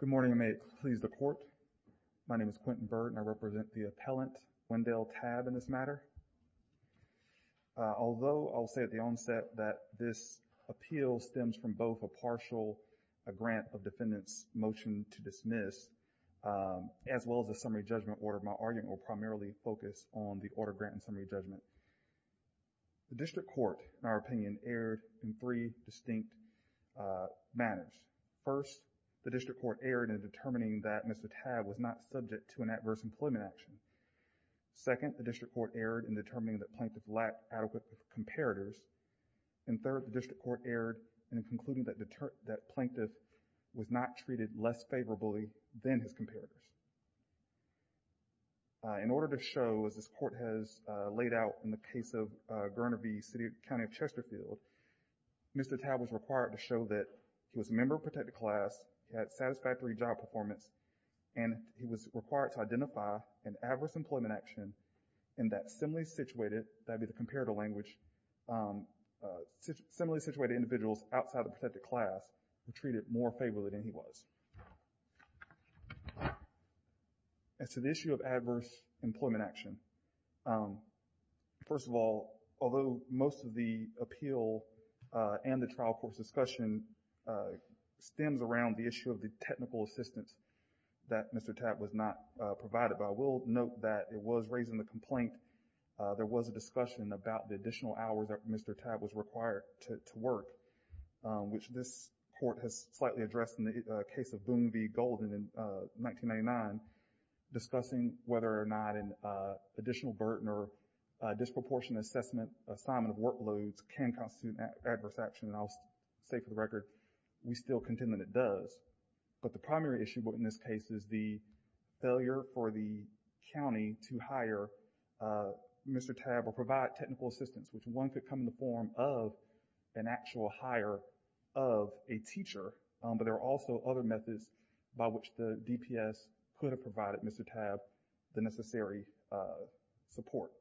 Good morning. I may please the court. My name is Quentin Byrd and I represent the appellant, Wendell Tabb, in this matter. Although I'll say at the onset that this appeal stems from both a partial grant of defendants motion to dismiss as well as a summary judgment order, my argument will primarily focus on the order grant and summary judgment. The district court, in our opinion, erred in three distinct manners. First, the district court erred in determining that Mr. Tabb was not subject to an adverse employment action. Second, the district court erred in determining that Planktoth lacked adequate comparators. And third, the district court erred in concluding that Planktoth was not treated less favorably than his comparators. In order to show, as this court has laid out in the case of Garner v. City and County of Chesterfield, Mr. Tabb was required to show that he was a member of a protected class, he had satisfactory job performance, and he was required to identify an adverse employment action in that similarly situated, that'd be the comparator language, similarly situated individuals outside the protected class were treated more favorably than he was. As to the issue of adverse employment action, first of all, although most of the appeal and the trial court's discussion stems around the issue of the technical assistance that Mr. Tabb was not provided by, I will note that it was raised in the complaint, there was a discussion about the additional hours that Mr. Tabb was required to work, which this court has slightly addressed in the case of Boone v. Golden in 1999, discussing whether or not an additional burden or disproportionate assessment assignment of workloads can constitute adverse action. And I'll say for the record, we still contend that it does. But the primary issue in this case is the failure for the county to hire Mr. Tabb or provide technical assistance, which one could come in the form of an actual hire of a teacher, but there are also other methods by which the DPS could have provided Mr. Tabb the necessary support,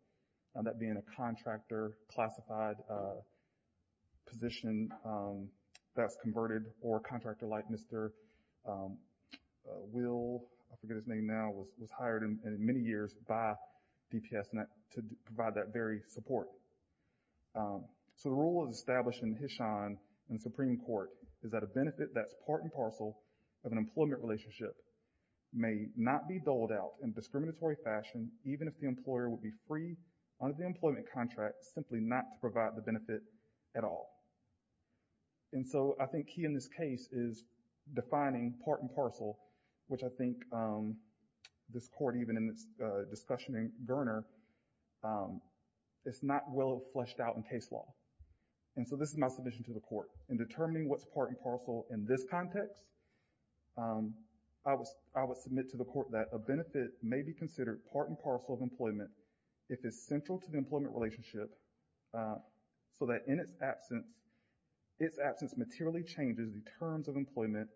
that being a contractor classified position that's converted or a contractor like Mr. Will, I forget his name now, was hired in many years by DPS to provide that very support. So the rule is established in Hishon in the Supreme Court is that a benefit that's part and parcel of an employment relationship may not be doled out in discriminatory fashion even if the employer would be free under the employment contract simply not to provide the benefit at all. And so I think key in this case is defining part and parcel, which I think this Court even in its discussion in Garner, it's not well fleshed out in case law. And so this is my submission to the Court. In determining what's part and parcel in this context, I would submit to the Court that a benefit may be considered part and parcel of employment if it's central to the employment relationship so that in its absence, its absence materially changes the terms of employment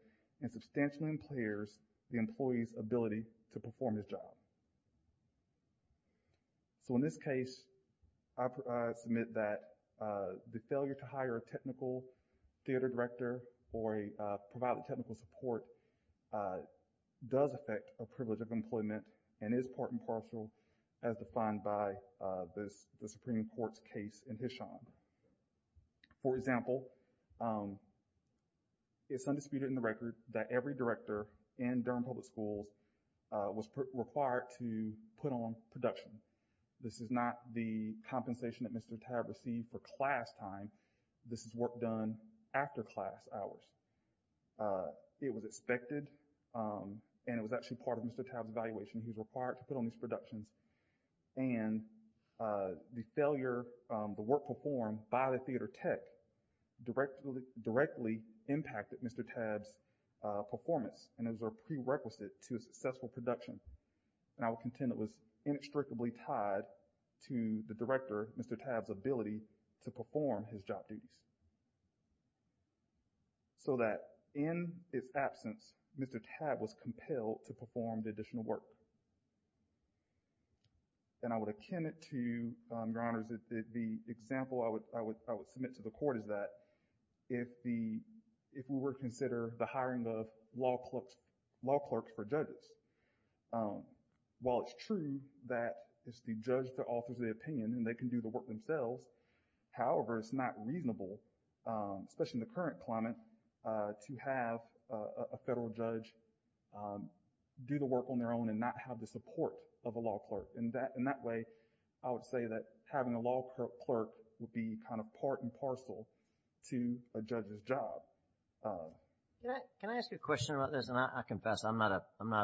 and substantially impairs the employee's ability to perform his job. So in this case, I submit that the failure to hire a technical theater director or provide technical support does affect a privilege of employment and is part and parcel as defined by the Supreme Court's case in Hishon. For example, it's undisputed in the record that every director in Durham Public Schools was required to put on production. This is not the compensation that Mr. Tabb received for class time. This is work done after class hours. It was expected and it was actually part of Mr. Tabb's evaluation he was required to put on these productions. And the failure, the work performed by the theater tech directly impacted Mr. Tabb's performance and it was a prerequisite to a successful production. And I would contend it was inextricably tied to the director, Mr. Tabb's ability to perform his job duties. So that in its absence, Mr. Tabb was compelled to perform the additional work. And I would akin it to, Your Honors, the example I would submit to the court is that if we were to consider the hiring of law clerks for judges, while it's true that it's the judge that offers the opinion and they can do the work themselves, however it's not reasonable, especially in the current climate, to have a federal judge do the work on their own and not have the support of a law clerk. In that way, I would say that having a law clerk would be kind of part and parcel to a judge's job. Can I ask a question about this? And I confess I'm not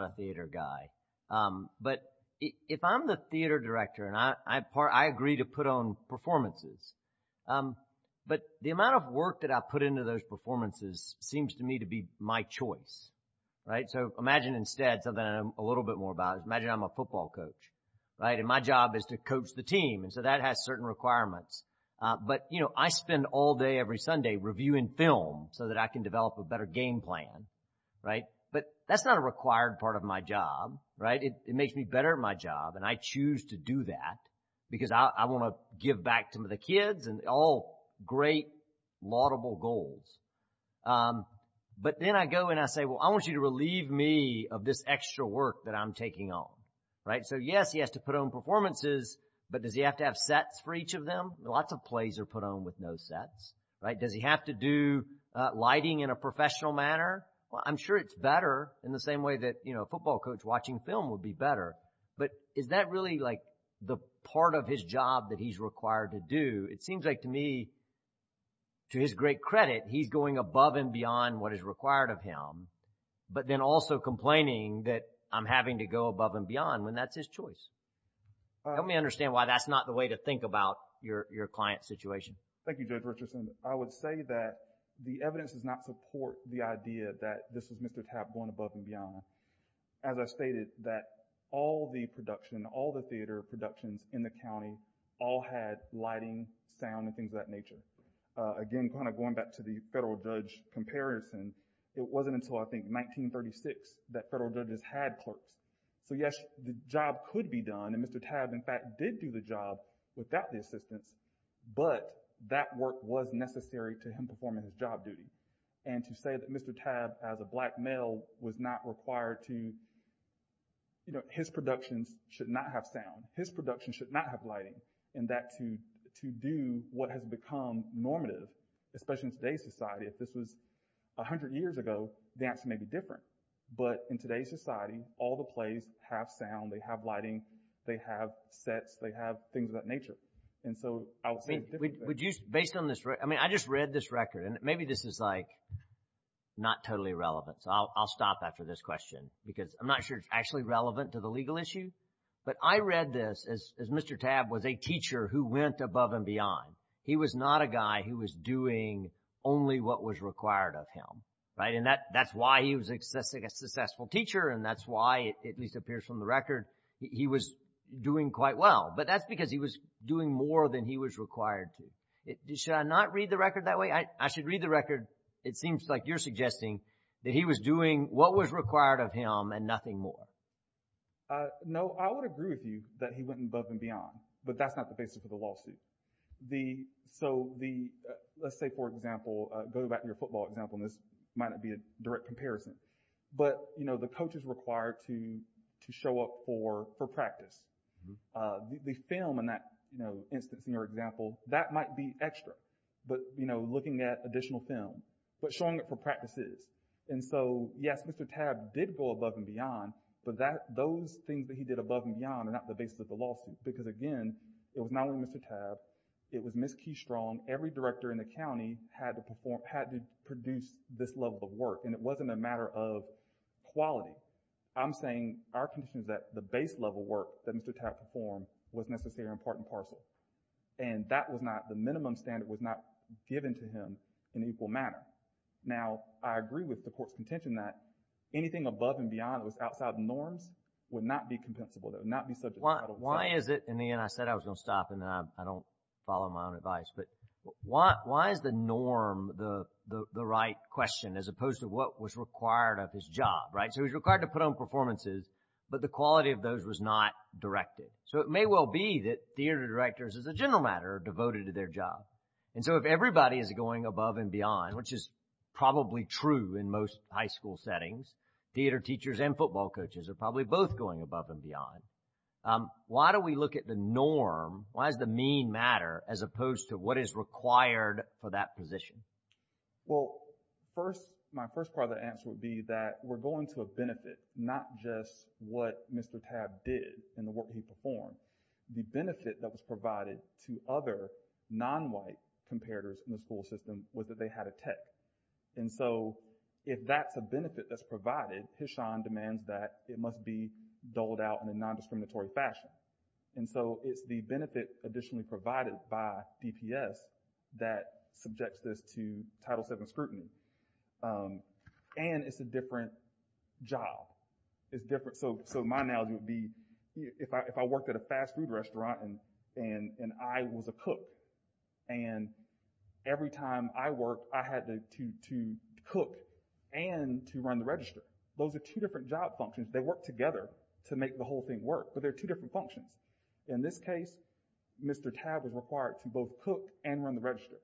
a theater guy. But if I'm the theater director and I agree to put on performances, but the amount of work that I put into those performances, I'm not a theater director. I'm a football coach. And my job is to coach the team. And so that has certain requirements. But, you know, I spend all day every Sunday reviewing film so that I can develop a better game plan. But that's not a required part of my job. It makes me better at my job. And I choose to do that because I want to give back to the kids and all great laudable goals. But then I go and I say, well, I want you to relieve me of this extra work that I'm taking on. Right? So, yes, he has to put on performances. But does he have to have sets for each of them? Lots of plays are put on with no sets. Right? Does he have to do lighting in a professional manner? Well, I'm sure it's better in the same way that, you know, a football coach watching film would be better. But is that really, like, the part of his job that he's required to do? It seems like to me, to his great credit, he's going above and beyond what is required of him, but then also complaining that I'm having to go above and beyond when that's his choice. Help me understand why that's not the way to think about your client's situation. Thank you, Judge Richardson. I would say that the evidence does not support the idea that this is Mr. Tapp going above and beyond. As I stated, that all the production, all the again, kind of going back to the federal judge comparison, it wasn't until I think 1936 that federal judges had clerks. So, yes, the job could be done, and Mr. Tapp, in fact, did do the job without the assistance, but that work was necessary to him performing his job duty. And to say that Mr. Tapp, as a black male, was not required to, you know, his productions should not have sound. His productions should not have lighting. And that to do what has become normative, especially in today's society, if this was 100 years ago, the answer may be different. But in today's society, all the plays have sound, they have lighting, they have sets, they have things of that nature. And so, I would say it's different. Would you, based on this, I mean, I just read this record, and maybe this is like not totally relevant, so I'll stop after this question, because I'm not sure it's actually relevant to the legal issue. But I read this as Mr. Tapp was a teacher who went above and beyond. He was not a guy who was doing only what was required of him, right? And that's why he was a successful teacher, and that's why, it at least appears from the record, he was doing quite well. But that's because he was doing more than he was required to. Should I not read the record that way? I should read the record, it seems like you're suggesting that he was doing what was required of him and nothing more. No, I would agree with you that he went above and beyond, but that's not the basis of the So, let's say, for example, go back to your football example, and this might not be a direct comparison, but, you know, the coach is required to show up for practice. The film in that, you know, instance in your example, that might be extra, but, you know, looking at additional film, but showing up for practices. And so, yes, Mr. Tapp did go above and beyond, but those things that he did above and beyond are not the basis of the lawsuit, because again, it was not only Mr. Tapp, it was Ms. Keystrong, every director in the county had to perform, had to produce this level of work, and it wasn't a matter of quality. I'm saying our condition is that the base level work that Mr. Tapp performed was necessary in part and parcel. And that was not, the minimum standard was not given to him in equal manner. Now, I agree with the Court's contention that anything above and beyond was outside norms would not be compensable, that it would not be subject to federal cuts. Why is it, and again, I said I was going to stop, and I don't follow my own advice, but why is the norm the right question, as opposed to what was required of his job, right? So, he was required to put on performances, but the quality of those was not directed. So, it may well be that theater directors, as a general matter, are devoted to their job. And so, if everybody is going above and beyond, which is probably true in most high school settings, theater teachers and football coaches are probably both going above and beyond. Why do we look at the norm, why does the mean matter, as opposed to what is required for that position? Well, first, my first part of the answer would be that we're going to a benefit, not just what Mr. Tapp did in the work that he performed. The benefit that was provided to other non-white comparators in the school system was that they had a tech. And so, if that's a benefit that's provided, Hishon demands that it must be doled out in a non-discriminatory fashion. And so, it's the benefit additionally provided by DPS that subjects this to Title VII scrutiny. And it's a different job. So, my analogy would be, if I worked at a fast food restaurant, and I was a cook, and every time I worked, I had to cook and to run the register. Those are two different job functions. They work together to make the whole thing work, but they're two different functions. In this case, Mr. Tapp was required to both cook and run the register.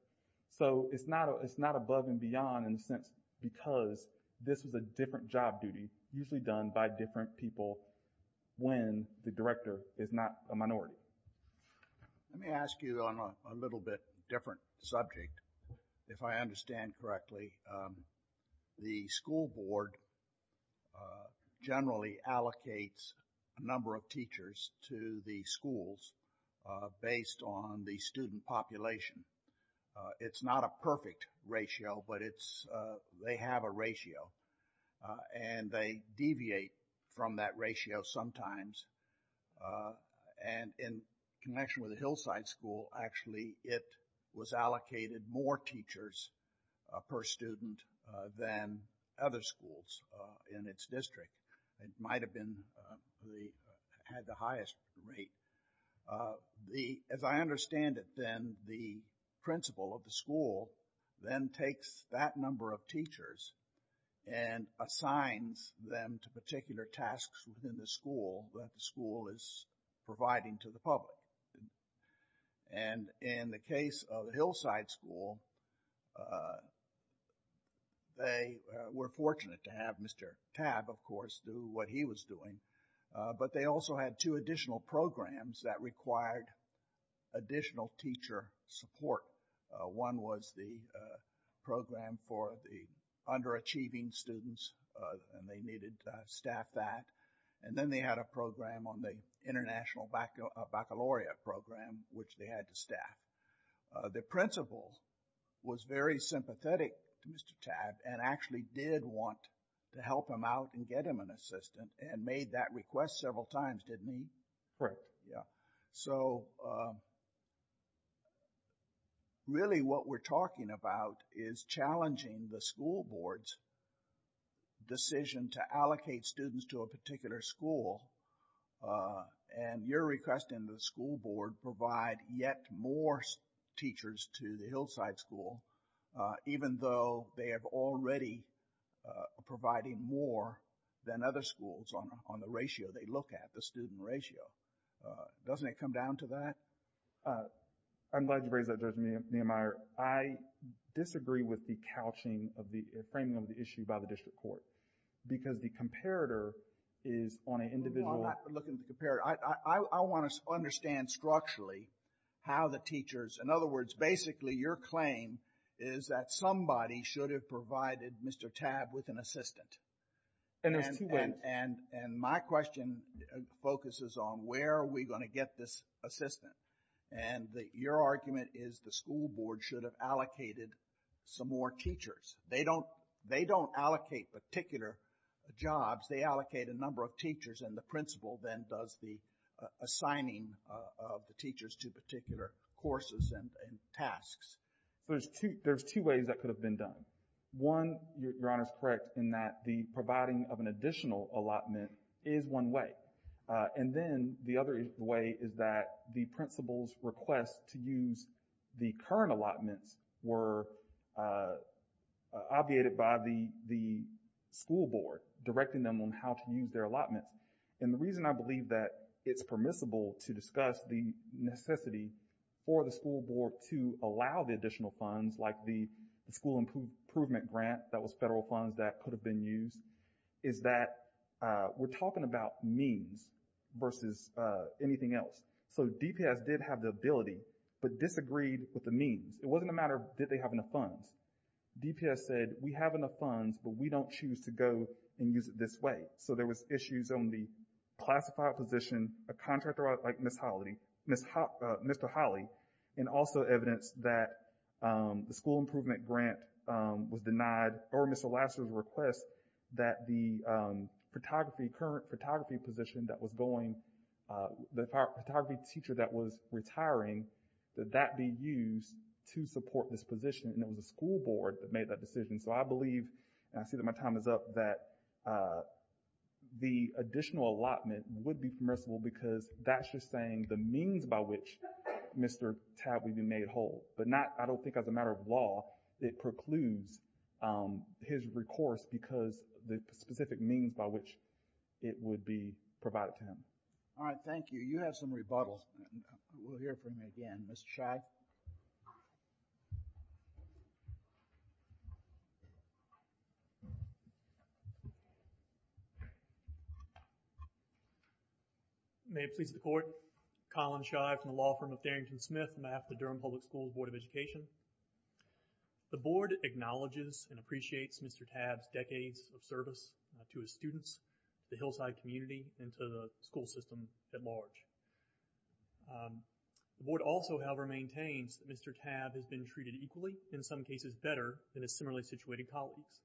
So, it's not above and beyond in a sense because this was a different job duty, usually done by different people when the director is not a minority. Let me ask you on a little bit different subject, if I understand correctly. The school board generally allocates a number of teachers to the schools based on the student population. It's not a perfect ratio, but they have a ratio, and they deviate from that ratio sometimes. And in connection with the Hillside School, actually, it was allocated more teachers per student than other schools in its district. It might have had the highest rate. As I understand it, then, the principal of the school then takes that number of teachers and assigns them to particular tasks within the school that the school is providing to the public. And in the case of the Hillside School, they were fortunate to have Mr. Tapp, of course, do what he was doing. But they also had two additional programs that required additional teacher support. One was the program for the underachieving students, and they needed to staff that. And then they had a program on the international baccalaureate program, which they had to staff. The principal was very sympathetic to Mr. Tapp and actually did want to help him out and get him an assistant, and made that request several times, didn't he? Correct. So really what we're talking about is challenging the school board's decision to allocate students to a particular school. And you're requesting the school board provide yet more teachers to the Hillside School, even though they have already provided more than other schools on the ratio they look at, the student ratio. Doesn't it come down to that? I'm glad you raised that, Judge Nehemiah. I disagree with the couching of the, framing of the issue by the district court because the comparator is on an individual... Basically, your claim is that somebody should have provided Mr. Tapp with an assistant. And my question focuses on where are we going to get this assistant? And your argument is the school board should have allocated some more teachers. They don't allocate particular jobs. They allocate a number of teachers, and the principal then does the assigning of the teachers to particular courses and tasks. So there's two ways that could have been done. One, your Honor is correct, in that the providing of an additional allotment is one way. And then the other way is that the principal's request to use the current allotments were obviated by the school board, directing them on how to use their allotments. And the reason I believe that it's permissible to discuss the necessity for the school board to allow the additional funds, like the school improvement grant that was federal funds that could have been used, is that we're talking about means versus anything else. So DPS did have the ability, but disagreed with the means. It wasn't a matter of did they have enough funds. DPS said, we have enough funds, but we don't choose to go and use it this way. So there was issues on the classified position, a contractor like Ms. Holly, Mr. Holly, and also evidence that the school improvement grant was denied, or Mr. Lassner's request that the photography, current photography position that was going, the photography teacher that was retiring, that that be used to support this position. And it was the school board that made that decision. So I believe, and I see that my time is up, that the additional allotment would be permissible because that's just saying the means by which Mr. Tabb would be made whole. But not, I don't think as a matter of law, it precludes his recourse because the specific means by which it would be provided to him. All right, thank you. You have some rebuttals. We'll hear from you again. Mr. Scheib. May it please the Court, Colin Scheib from the law firm of Darrington Smith, and I'm with the Durham Public Schools Board of Education. The board acknowledges and appreciates Mr. Tabb's role in the school system at large. The board also, however, maintains that Mr. Tabb has been treated equally, in some cases better, than his similarly situated colleagues.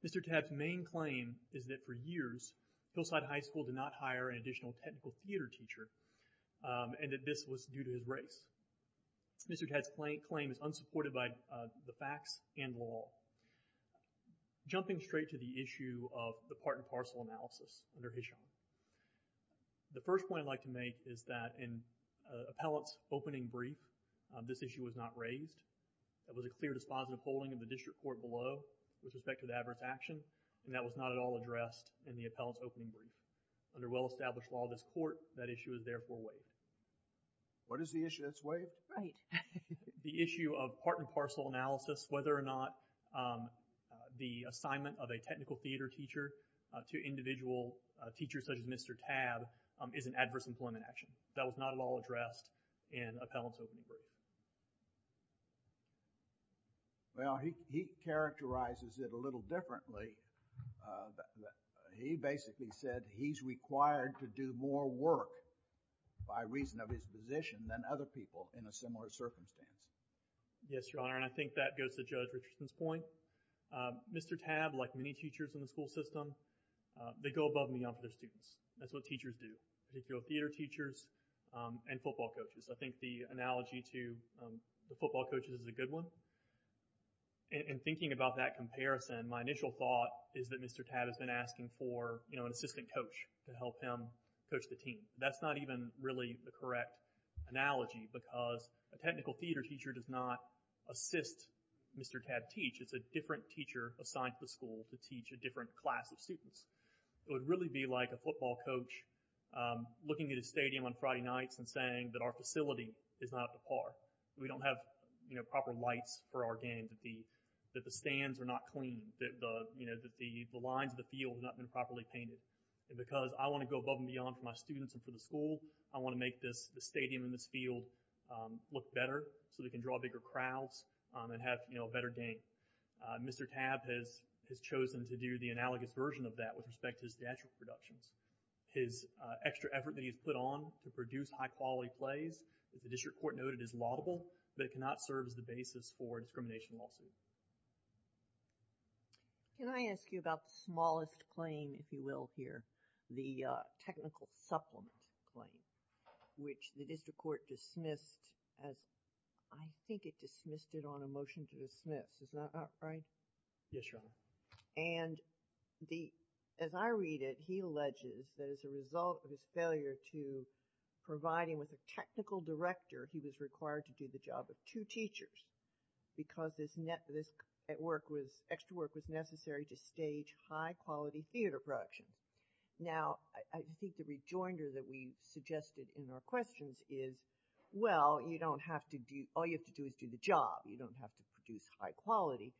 Mr. Tabb's main claim is that for years, Hillside High School did not hire an additional technical theater teacher, and that this was due to his race. Mr. Tabb's claim is unsupported by the facts and law. Jumping straight to the issue of the part and parcel analysis under Hisham. The first point I'd like to make is that in appellate's opening brief, this issue was not raised. There was a clear dispositive holding in the district court below with respect to the adverse action, and that was not at all addressed in the appellate's opening brief. Under well-established law of this court, that issue is therefore waived. What is the issue? It's waived? Right. The issue of part and parcel analysis, whether or not the assignment of a technical theater teacher to individual teachers, such as Mr. Tabb, is an adverse employment action. That was not at all addressed in appellate's opening brief. Well, he, he characterizes it a little differently. He basically said he's required to do more work, by reason of his position, than other people in a similar circumstance. Yes, Your Honor, and I think that goes to Judge Richardson's point. Mr. Tabb, like many teachers in the school system, they go above and beyond for their students. That's what teachers do. They go theater teachers and football coaches. I think the analogy to the football coaches is a good one. In thinking about that comparison, my initial thought is that Mr. Tabb has been asking for, you know, an assistant coach to help him coach the team. That's not even really the correct analogy, because a technical theater teacher does not assist Mr. Tabb teach. It's a different teacher assigned to the school to teach a different class of students. It would really be like a football coach looking at a stadium on Friday nights and saying that our facility is not up to par. We don't have, you know, proper lights for our game, that the, that the stands are not clean, that the, you know, that the lines of the field have not been properly painted. Because I want to go above and beyond for my students and for the school, I want to make this, the stadium and this field look better so they can draw bigger crowds and have, you know, a better game. Mr. Tabb has chosen to do the analogous version of that with respect to his theatrical productions. His extra effort that he's put on to produce high quality plays, the district court noted is laudable, but it cannot serve as the basis for a discrimination lawsuit. Can I ask you about the smallest claim, if you will, here, the technical supplement claim, which the district court dismissed as, I think it dismissed it on a motion to dismiss, is that right? Yes, Your Honor. And the, as I read it, he alleges that as a result of his failure to provide him with a technical director, he was required to do the job of two teachers because this extra work was necessary to stage high quality theater production. Now, I think the rejoinder that we suggested in our questions is, well, you don't have to do, all you have to do is do the job. You don't have to produce high quality.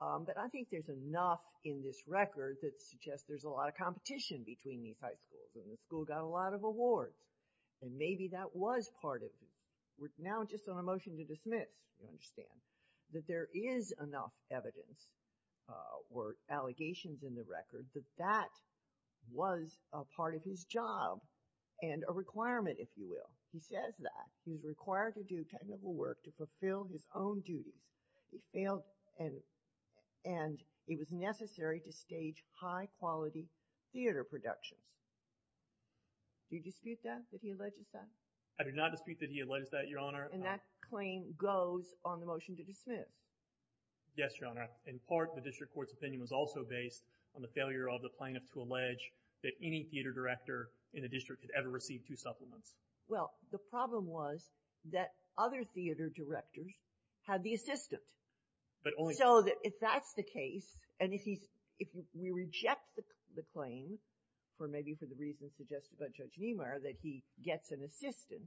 But I think there's enough in this record that suggests there's a lot of competition between these high schools. And the school got a lot of awards. And maybe that was part of it. Now, just on a motion to dismiss, you understand that there is enough evidence or allegations in the record that that was a part of his job and a requirement, if you will. He says that he's required to do technical work to fulfill his own duties. He failed and it was necessary to stage high quality theater productions. Do you dispute that, that he alleges that? I do not dispute that he alleges that, Your Honor. And that claim goes on the motion to dismiss. Yes, Your Honor. In part, the district court's opinion was also based on the failure of the plaintiff to allege that any theater director in the district had ever received two supplements. Well, the problem was that other theater directors had the assistant. But only— So, if that's the case, and if we reject the claim, or maybe for the reasons suggested by Judge Niemeyer, that he gets an assistant,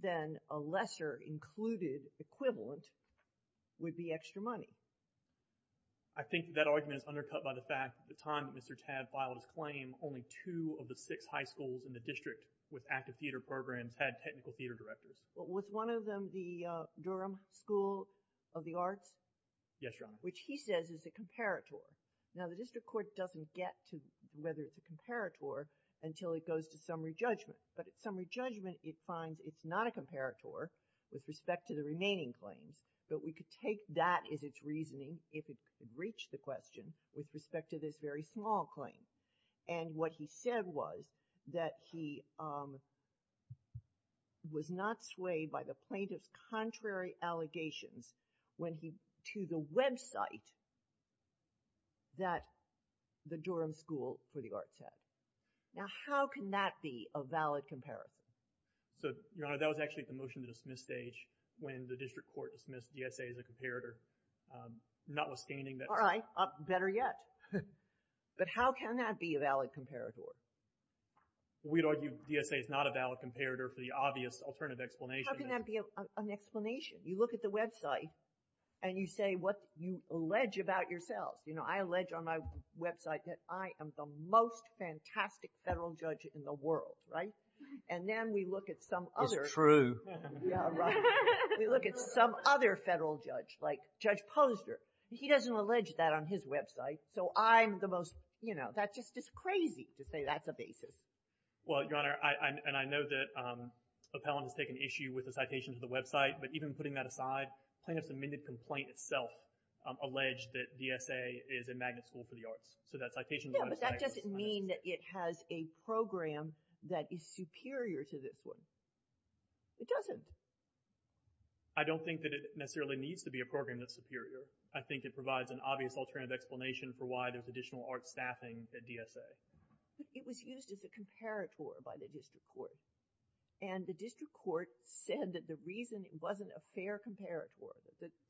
then a lesser included equivalent would be extra money. I think that argument is undercut by the fact that at the time that Mr. Tadd filed his claim, only two of the six high schools in the district with active theater programs had technical theater directors. Was one of them the Durham School of the Arts? Yes, Your Honor. Which he says is a comparator. Now, the district court doesn't get to whether it's a comparator until it goes to summary judgment. But at summary judgment, it finds it's not a comparator with respect to the remaining claims. But we could take that as its reasoning, if it could reach the question, with respect to this very small claim. And what he said was that he was not swayed by the plaintiff's contrary allegations when he— that the Durham School for the Arts had. Now, how can that be a valid comparison? So, Your Honor, that was actually at the motion to dismiss stage, when the district court dismissed DSA as a comparator. Notwithstanding that— All right. Better yet. But how can that be a valid comparator? We'd argue DSA is not a valid comparator for the obvious alternative explanation. How can that be an explanation? You look at the website, and you say what you allege about yourselves. You know, I allege on my website that I am the most fantastic federal judge in the world, right? And then we look at some other— That's true. Yeah, right. We look at some other federal judge, like Judge Posner. He doesn't allege that on his website, so I'm the most— You know, that's just crazy to say that's a basis. Well, Your Honor, and I know that Appellant has taken issue with the citation to the website, but even putting that aside, plaintiff's amended complaint itself alleged that DSA is a magnet school for the arts. So that citation— Yeah, but that doesn't mean that it has a program that is superior to this one. It doesn't. I don't think that it necessarily needs to be a program that's superior. I think it provides an obvious alternative explanation for why there's additional arts staffing at DSA. It was used as a comparator by the district court. And the district court said that the reason it wasn't a fair comparator,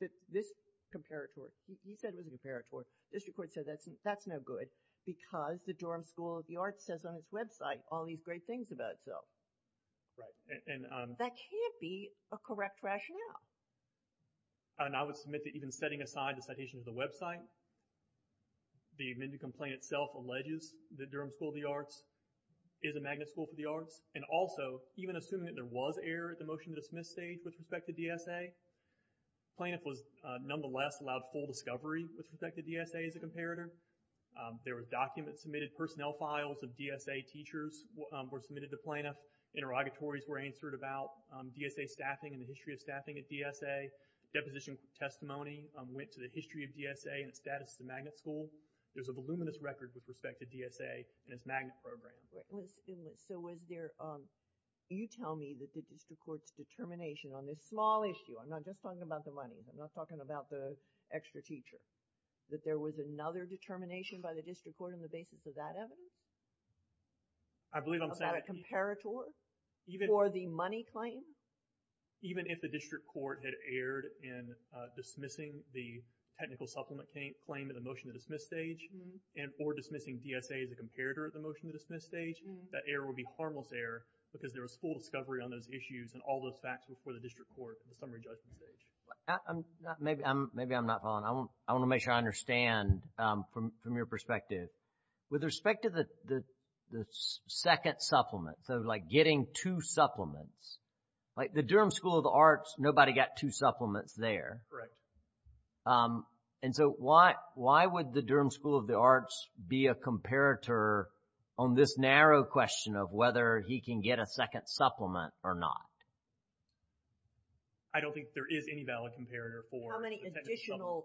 that this comparator—he said it was a comparator. The district court said that's no good because the Durham School of the Arts says on its website all these great things about itself. Right, and— That can't be a correct rationale. And I would submit that even setting aside the citation to the website, the amended complaint itself alleges that Durham School of the Arts is a magnet school for the arts. And also, even assuming that there was error at the motion-to-dismiss stage with respect to DSA, plaintiff was nonetheless allowed full discovery with respect to DSA as a comparator. There were documents submitted, personnel files of DSA teachers were submitted to plaintiff. Interrogatories were answered about DSA staffing and the history of staffing at DSA. Deposition testimony went to the history of DSA and its status as a magnet school. There's a voluminous record with respect to DSA and its magnet program. So was there—you tell me that the district court's determination on this small issue, I'm not just talking about the money, I'm not talking about the extra teacher, that there was another determination by the district court on the basis of that evidence? I believe I'm saying— About a comparator for the money claim? Even if the district court had erred in dismissing the technical supplement claim at the motion-to-dismiss stage or dismissing DSA as a comparator at the motion-to-dismiss stage, that error would be harmless error because there was full discovery on those issues and all those facts before the district court at the summary judgment stage. Maybe I'm not following. I want to make sure I understand from your perspective. With respect to the second supplement, so like getting two supplements, like the Durham School of the Arts, nobody got two supplements there. Correct. And so why would the Durham School of the Arts be a comparator on this narrow question of whether he can get a second supplement or not? I don't think there is any valid comparator for the technical supplement claim. How many additional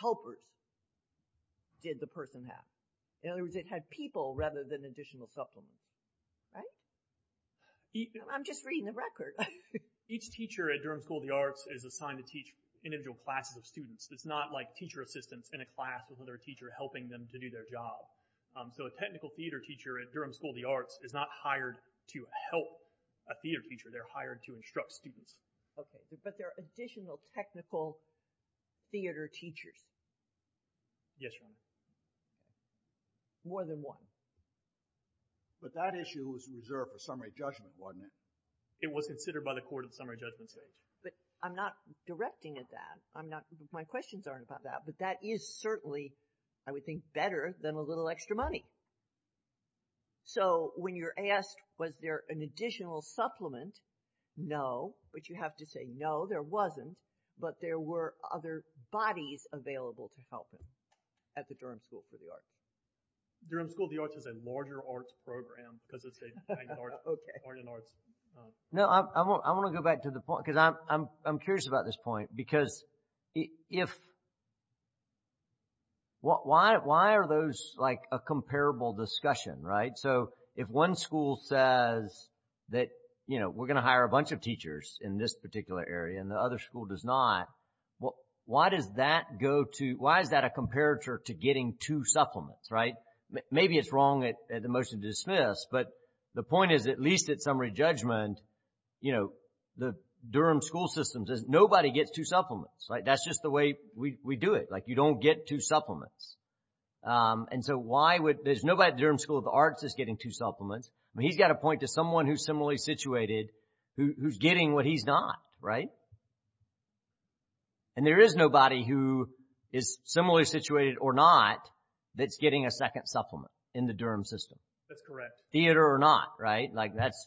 helpers did the person have? In other words, it had people rather than additional supplements, right? I'm just reading the record. Each teacher at Durham School of the Arts is assigned to teach individual classes of students. It's not like teacher assistants in a class with another teacher helping them to do their job. So a technical theater teacher at Durham School of the Arts is not hired to help a theater teacher. They're hired to instruct students. Okay, but there are additional technical theater teachers. Yes, Your Honor. More than one. But that issue was reserved for summary judgment, wasn't it? It was considered by the court at the summary judgment stage. But I'm not directing at that. My questions aren't about that. But that is certainly, I would think, better than a little extra money. So when you're asked, was there an additional supplement, no. But you have to say, no, there wasn't. But there were other bodies available to help him at the Durham School of the Arts. Durham School of the Arts is a larger arts program because it's an art and arts. No, I want to go back to the point because I'm curious about this point. Because why are those like a comparable discussion, right? So if one school says that, you know, we're going to hire a bunch of teachers in this particular area and the other school does not, why does that go to, why is that a comparator to getting two supplements, right? Maybe it's wrong at the motion to dismiss. But the point is, at least at summary judgment, you know, the Durham School system says nobody gets two supplements. That's just the way we do it. Like you don't get two supplements. And so why would, there's nobody at the Durham School of the Arts that's getting two supplements. I mean, he's got to point to someone who's similarly situated who's getting what he's not, right? And there is nobody who is similarly situated or not that's getting a second supplement in the Durham system. That's correct. Theater or not, right? Like that's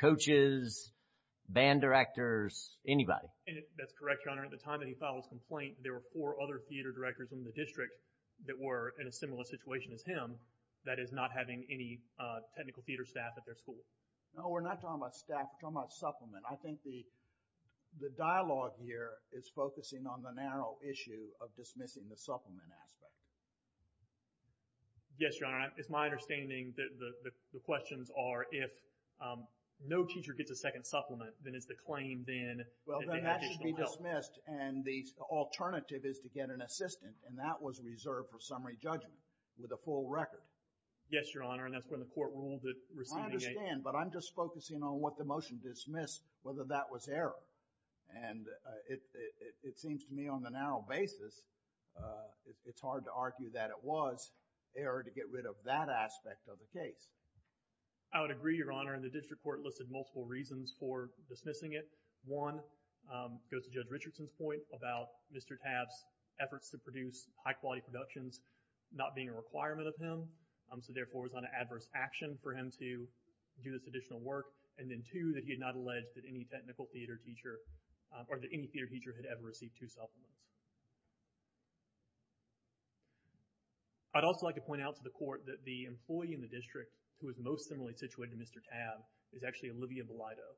coaches, band directors, anybody. That's correct, Your Honor. At the time that he filed his complaint, there were four other theater directors in the district that were in a similar situation as him that is not having any technical theater staff at their school. No, we're not talking about staff. We're talking about supplement. I think the dialogue here is focusing on the narrow issue of dismissing the supplement aspect. Yes, Your Honor. It's my understanding that the questions are if no teacher gets a second supplement, then it's the claim then that they have additional help. Well, then that should be dismissed. And the alternative is to get an assistant. And that was reserved for summary judgment with a full record. Yes, Your Honor. And that's when the court ruled that receiving a... I understand, but I'm just focusing on what the motion dismissed, whether that was error. And it seems to me on the narrow basis, it's hard to argue that it was error to get rid of that aspect of the case. I would agree, Your Honor. And the district court listed multiple reasons for dismissing it. One goes to Judge Richardson's point about Mr. Tabb's efforts to produce high-quality productions not being a requirement of him. So, therefore, it was not an adverse action for him to do this additional work. And then, two, that he had not alleged that any technical theater teacher or that any theater teacher had ever received two supplements. I'd also like to point out to the court that the employee in the district who is most similarly situated to Mr. Tabb is actually Olivia Belido.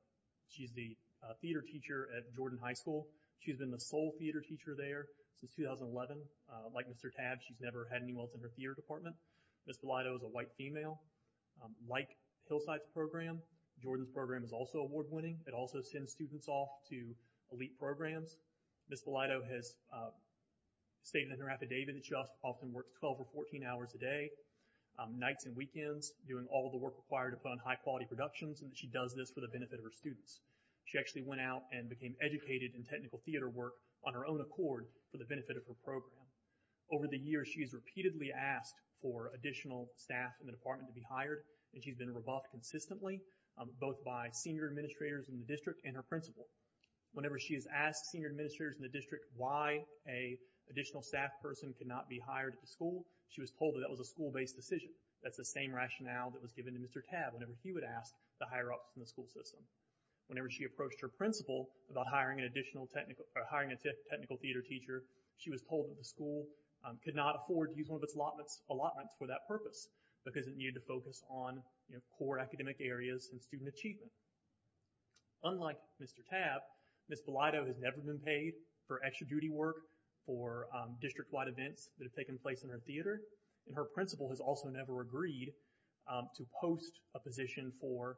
She's the theater teacher at Jordan High School. She's been the sole theater teacher there since 2011. Like Mr. Tabb, she's never had anyone else in her theater department. Ms. Belido is a white female. Like Hillside's program, Jordan's program is also award-winning. It also sends students off to elite programs. Ms. Belido has stated in her affidavit that she often works 12 or 14 hours a day, nights and weekends, doing all the work required to fund high-quality productions and that she does this for the benefit of her students. She actually went out and became educated in technical theater work on her own accord for the benefit of her program. Over the years, she has repeatedly asked for additional staff in the department to be hired and she's been rebuffed consistently, both by senior administrators in the district and her principal. Whenever she has asked senior administrators in the district why an additional staff person could not be hired at the school, she was told that that was a school-based decision. That's the same rationale that was given to Mr. Tabb whenever he would ask to hire up from the school system. Whenever she approached her principal about hiring a technical theater teacher, she was told that the school could not afford to use one of its allotments for that purpose because it needed to focus on core academic areas and student achievement. Unlike Mr. Tabb, Ms. Belido has never been paid for extra-duty work or district-wide events that have taken place in her theater, and her principal has also never agreed to host a position for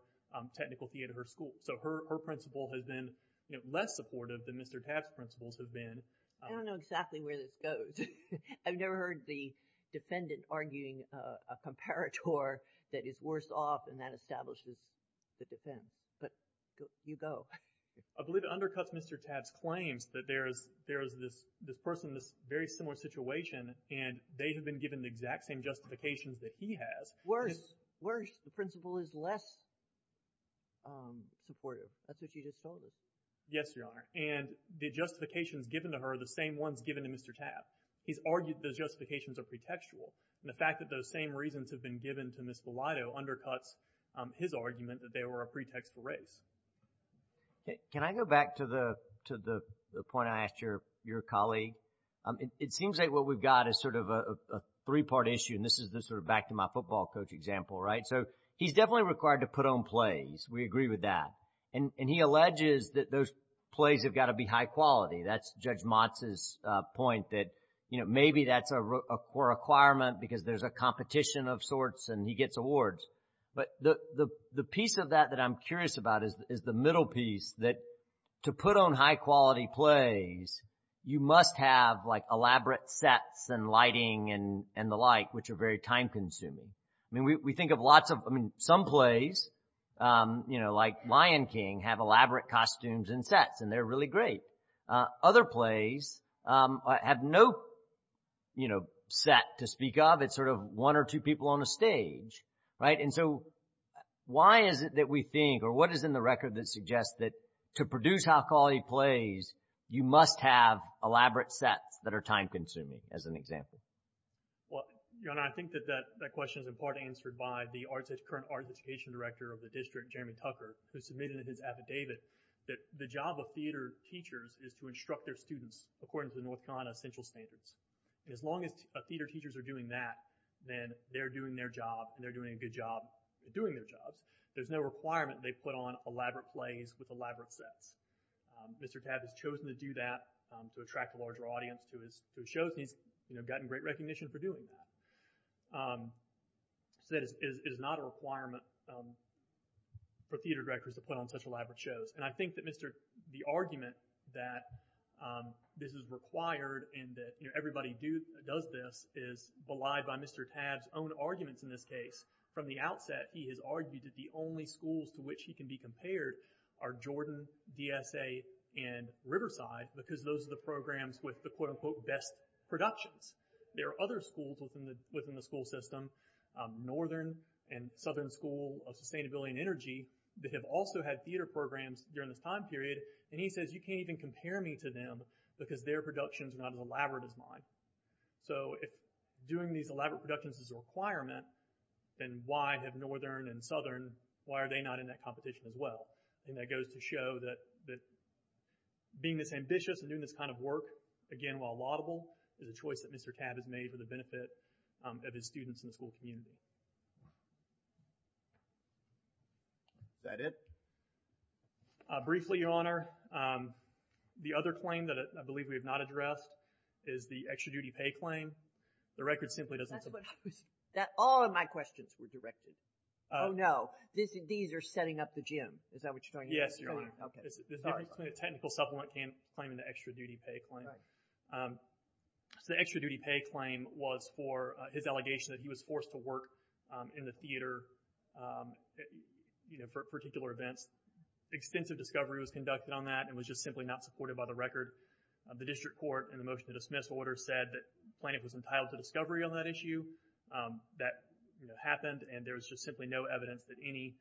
technical theater at her school. So her principal has been less supportive than Mr. Tabb's principals have been. I don't know exactly where this goes. I've never heard the defendant arguing a comparator that is worse off than that establishes the defense, but you go. I believe it undercuts Mr. Tabb's claims that there is this person in this very similar situation, and they have been given the exact same justifications that he has. Worse, worse. The principal is less supportive. That's what you just told us. Yes, Your Honor, and the justifications given to her are the same ones given to Mr. Tabb. He's argued those justifications are pretextual, and the fact that those same reasons have been given to Ms. Belido undercuts his argument that they were a pretext for race. Can I go back to the point I asked your colleague? It seems like what we've got is sort of a three-part issue, and this is sort of back to my football coach example, right? So he's definitely required to put on plays. We agree with that. And he alleges that those plays have got to be high quality. That's Judge Motz's point that maybe that's a requirement because there's a competition of sorts and he gets awards. But the piece of that that I'm curious about is the middle piece that to put on high-quality plays, you must have, like, elaborate sets and lighting and the like, which are very time-consuming. I mean, we think of lots of, I mean, some plays, you know, like Lion King, have elaborate costumes and sets, and they're really great. Other plays have no, you know, set to speak of. It's sort of one or two people on a stage, right? And so why is it that we think, or what is in the record that suggests that to produce high-quality plays, you must have elaborate sets that are time-consuming, as an example? Well, John, I think that that question is in part answered by the current arts education director of the district, Jeremy Tucker, who submitted in his affidavit that the job of theater teachers is to instruct their students according to the North Carolina essential standards. And as long as theater teachers are doing that, then they're doing their job, and they're doing a good job doing their jobs. There's no requirement they put on elaborate plays with elaborate sets. Mr. Tabb has chosen to do that to attract a larger audience to his shows, and he's gotten great recognition for doing that. So that is not a requirement for theater directors to put on such elaborate shows. And I think that the argument that this is required and that everybody does this is belied by Mr. Tabb's own arguments in this case. From the outset, he has argued that the only schools to which he can be compared are Jordan, DSA, and Riverside, because those are the programs with the quote-unquote best productions. There are other schools within the school system, Northern and Southern School of Sustainability and Energy, that have also had theater programs during this time period, and he says you can't even compare me to them because their productions are not as elaborate as mine. So if doing these elaborate productions is a requirement, then why have Northern and Southern, why are they not in that competition as well? And that goes to show that being this ambitious and doing this kind of work, again, while laudable, is a choice that Mr. Tabb has made for the benefit of his students in the school community. Is that it? Briefly, Your Honor, the other claim that I believe we have not addressed is the extra-duty pay claim. The record simply doesn't support that. All of my questions were directed. Oh, no, these are setting up the gym. Is that what you're talking about? Yes, Your Honor. It's a technical supplement claim in the extra-duty pay claim. So the extra-duty pay claim was for his allegation that he was forced to work in the theater for particular events. Extensive discovery was conducted on that. It was just simply not supported by the record. The district court in the motion to dismiss order said that Planoff was entitled to discovery on that issue. That happened, and there was just simply no evidence that any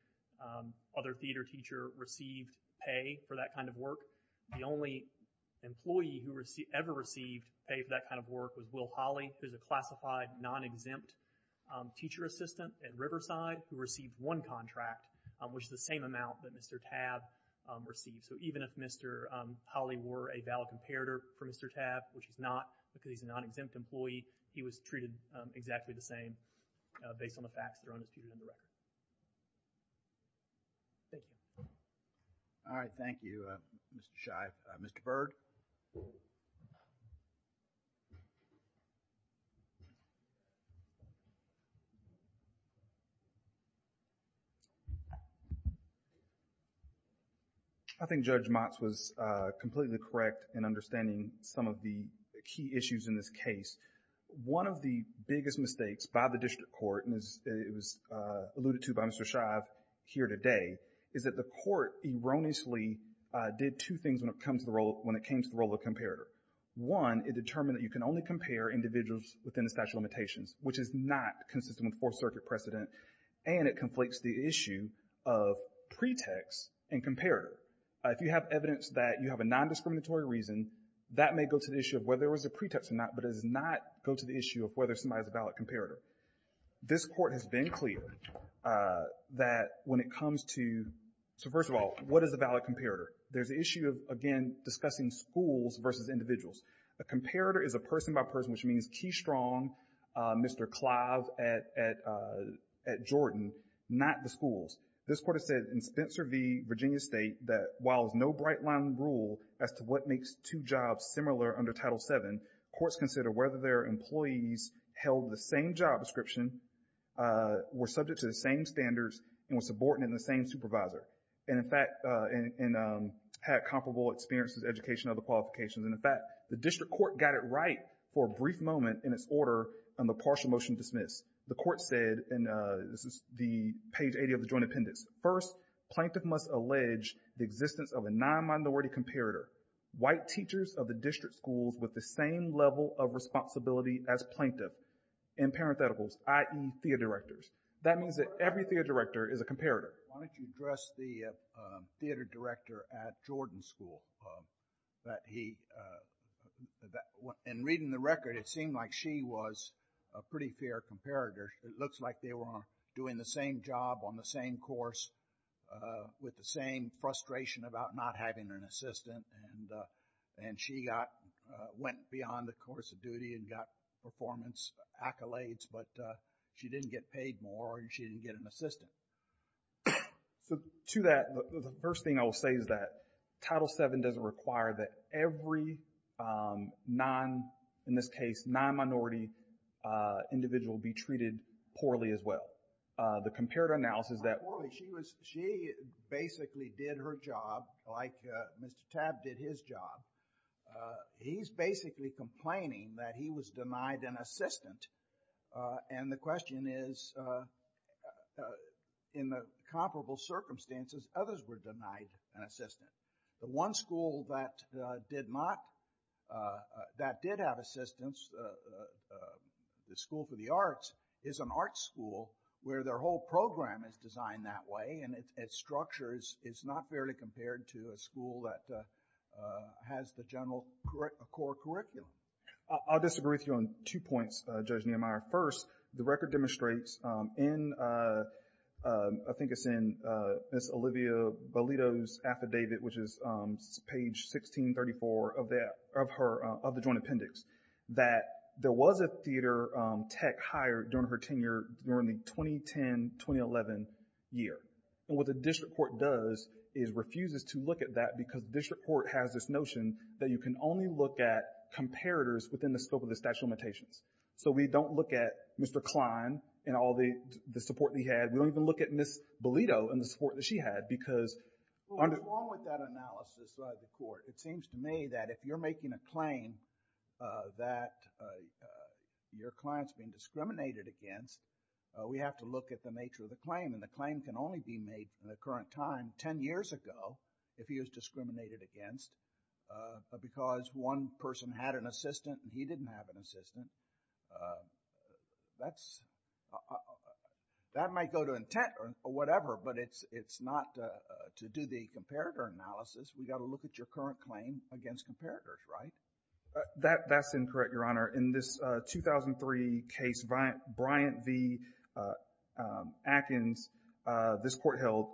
other theater teacher received pay for that kind of work. The only employee who ever received pay for that kind of work was Will Holley, who is a classified non-exempt teacher assistant at Riverside who received one contract, which is the same amount that Mr. Tabb received. So even if Mr. Holley were a valid comparator for Mr. Tabb, which he's not because he's a non-exempt employee, he was treated exactly the same based on the facts that are understood in the record. Thank you. All right, thank you, Mr. Scheib. Mr. Berg. I think Judge Motz was completely correct in understanding some of the key issues in this case. One of the biggest mistakes by the district court, and it was alluded to by Mr. Scheib here today, is that the court erroneously did two things when it came to the role of comparator. One, it determined that you can only compare individuals within the statute of limitations, which is not consistent with Fourth Circuit precedent, and it conflates the issue of pretext and comparator. If you have evidence that you have a non-discriminatory reason, that may go to the issue of whether there was a pretext or not, but it does not go to the issue of whether somebody is a valid comparator. This court has been clear that when it comes to... So first of all, what is a valid comparator? There's the issue of, again, discussing schools versus individuals. A comparator is a person by person, which means Key Strong, Mr. Clive at Jordan, not the schools. This court has said in Spencer v. Virginia State that while there's no bright-line rule as to what makes two jobs similar under Title VII, courts consider whether their employees held the same job description, were subject to the same standards, and were subordinate in the same supervisor, and had comparable experiences, education, other qualifications. In fact, the district court got it right for a brief moment in its order on the partial motion to dismiss. The court said, and this is page 80 of the joint appendix, first, plaintiff must allege the existence of a non-minority comparator. White teachers of the district schools with the same level of responsibility as plaintiff, in parentheticals, i.e., theater directors. That means that every theater director is a comparator. Why don't you address the theater director at Jordan School? That he... In reading the record, it seemed like she was a pretty fair comparator. It looks like they were doing the same job on the same course with the same frustration about not having an assistant, and she went beyond the course of duty and got performance accolades, but she didn't get paid more, and she didn't get an assistant. To that, the first thing I will say is that Title VII doesn't require that every non, in this case, non-minority individual be treated poorly as well. The comparator analysis that... She basically did her job like Mr. Tabb did his job. He's basically complaining that he was denied an assistant, and the question is, in the comparable circumstances, others were denied an assistant. The one school that did not, that did have assistants, the School for the Arts, is an art school where their whole program is designed that way, and its structure is not fairly compared to a school that has the general core curriculum. I'll disagree with you on two points, Judge Nehemiah. First, the record demonstrates in... I think it's in Ms. Olivia Valido's affidavit, which is page 1634 of the joint appendix, that there was a theater tech hired during her tenure during the 2010-2011 year. What the district court does is refuses to look at that because the district court has this notion that you can only look at comparators within the scope of the statute of limitations. So we don't look at Mr. Kline and all the support he had. We don't even look at Ms. Valido and the support that she had because... What's wrong with that analysis by the court? It seems to me that if you're making a claim that your client's being discriminated against, we have to look at the nature of the claim, and the claim can only be made in the current time 10 years ago if he was discriminated against because one person had an assistant and he didn't have an assistant. That's... That might go to intent or whatever, but it's not to do the comparator analysis. We've got to look at your current claim against comparators, right? That's incorrect, Your Honor. In this 2003 case, Bryant v. Atkins, this court held,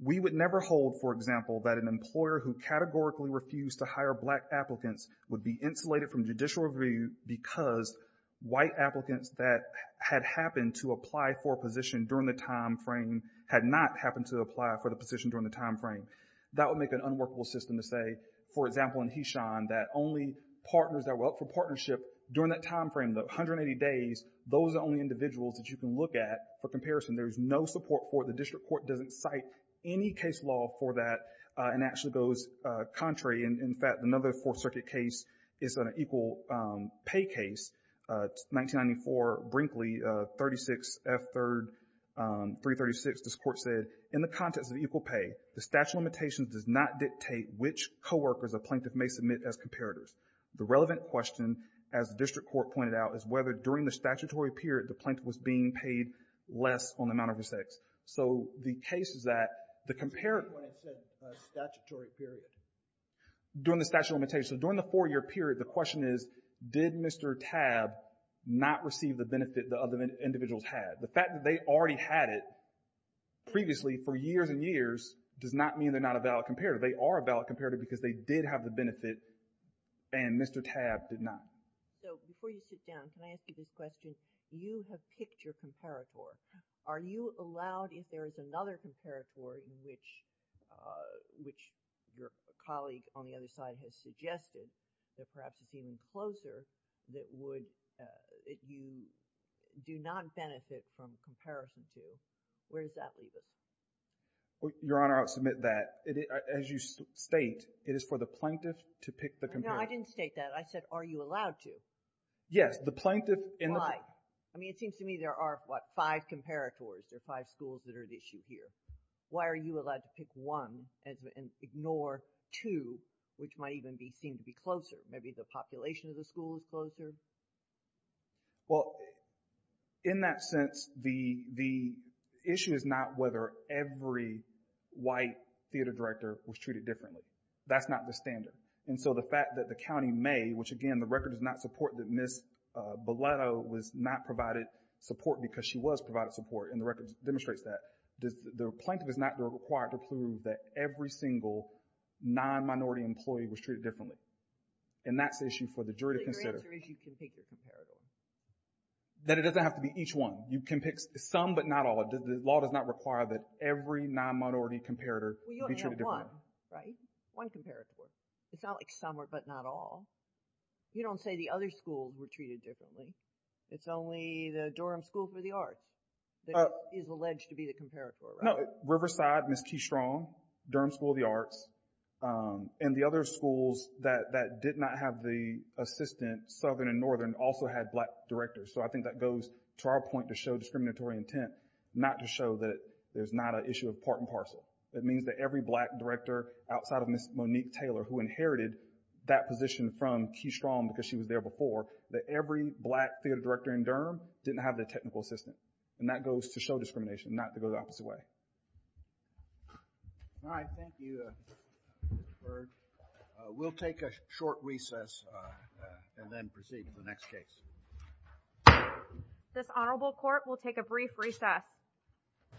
we would never hold, for example, that an employer who categorically refused to hire black applicants would be insulated from judicial review because white applicants that had happened to apply for a position during the time frame had not happened to apply for the position during the time frame. That would make an unworkable system to say, for example, in Heshon, that only partners that were up for partnership during that time frame, the 180 days, those are the only individuals that you can look at for comparison. There's no support for it. The district court doesn't cite any case law for that and actually goes contrary. In fact, another Fourth Circuit case is an equal pay case, 1994 Brinkley, 36 F. 3rd, 336. This court said, in the context of equal pay, the statute of limitations does not dictate which co-workers a plaintiff may submit as comparators. The relevant question, as the district court pointed out, is whether during the statutory period the plaintiff was being paid less on the amount of his sex. So the case is that the comparator… When it said statutory period. During the statute of limitations. So during the four-year period, the question is, did Mr. Tabb not receive the benefit the other individuals had? The fact that they already had it previously for years and years does not mean they're not a valid comparator. They are a valid comparator because they did have the benefit and Mr. Tabb did not. So before you sit down, can I ask you this question? You have picked your comparator. Are you allowed, if there is another comparator in which your colleague on the other side has suggested that perhaps is even closer, that you do not benefit from comparison to, where does that leave us? Your Honor, I'll submit that. As you state, it is for the plaintiff to pick the comparator. No, I didn't state that. I said, are you allowed to? Yes, the plaintiff in the… Why? I mean, it seems to me there are, what, five comparators. There are five schools that are the issue here. Why are you allowed to pick one and ignore two, which might even seem to be closer? Maybe the population of the school is closer? Well, in that sense, the issue is not whether every white theater director was treated differently. That's not the standard. And so the fact that the county may, which, again, the record does not support that Ms. Belletto was not provided support because she was provided support, and the record demonstrates that. The plaintiff is not required to prove that every single non-minority employee was treated differently. And that's the issue for the jury to consider. So your answer is you can pick your comparator? That it doesn't have to be each one. You can pick some but not all. The law does not require that every non-minority comparator be treated differently. Well, you only have one, right? One comparator. It's not like some but not all. You don't say the other schools were treated differently. It's only the Durham School for the Arts that is alleged to be the comparator, right? No, Riverside, Ms. Keystrong, Durham School of the Arts, and the other schools that did not have the assistant, Southern and Northern, also had black directors. So I think that goes to our point to show discriminatory intent, not to show that there's not an issue of part and parcel. It means that every black director outside of Ms. Monique Taylor, who inherited that position from Keystrong because she was there before, that every black theater director in Durham didn't have the technical assistant. And that goes to show discrimination, not to go the opposite way. All right, thank you, Mr. Berg. We'll take a short recess and then proceed to the next case. This honorable court will take a brief recess.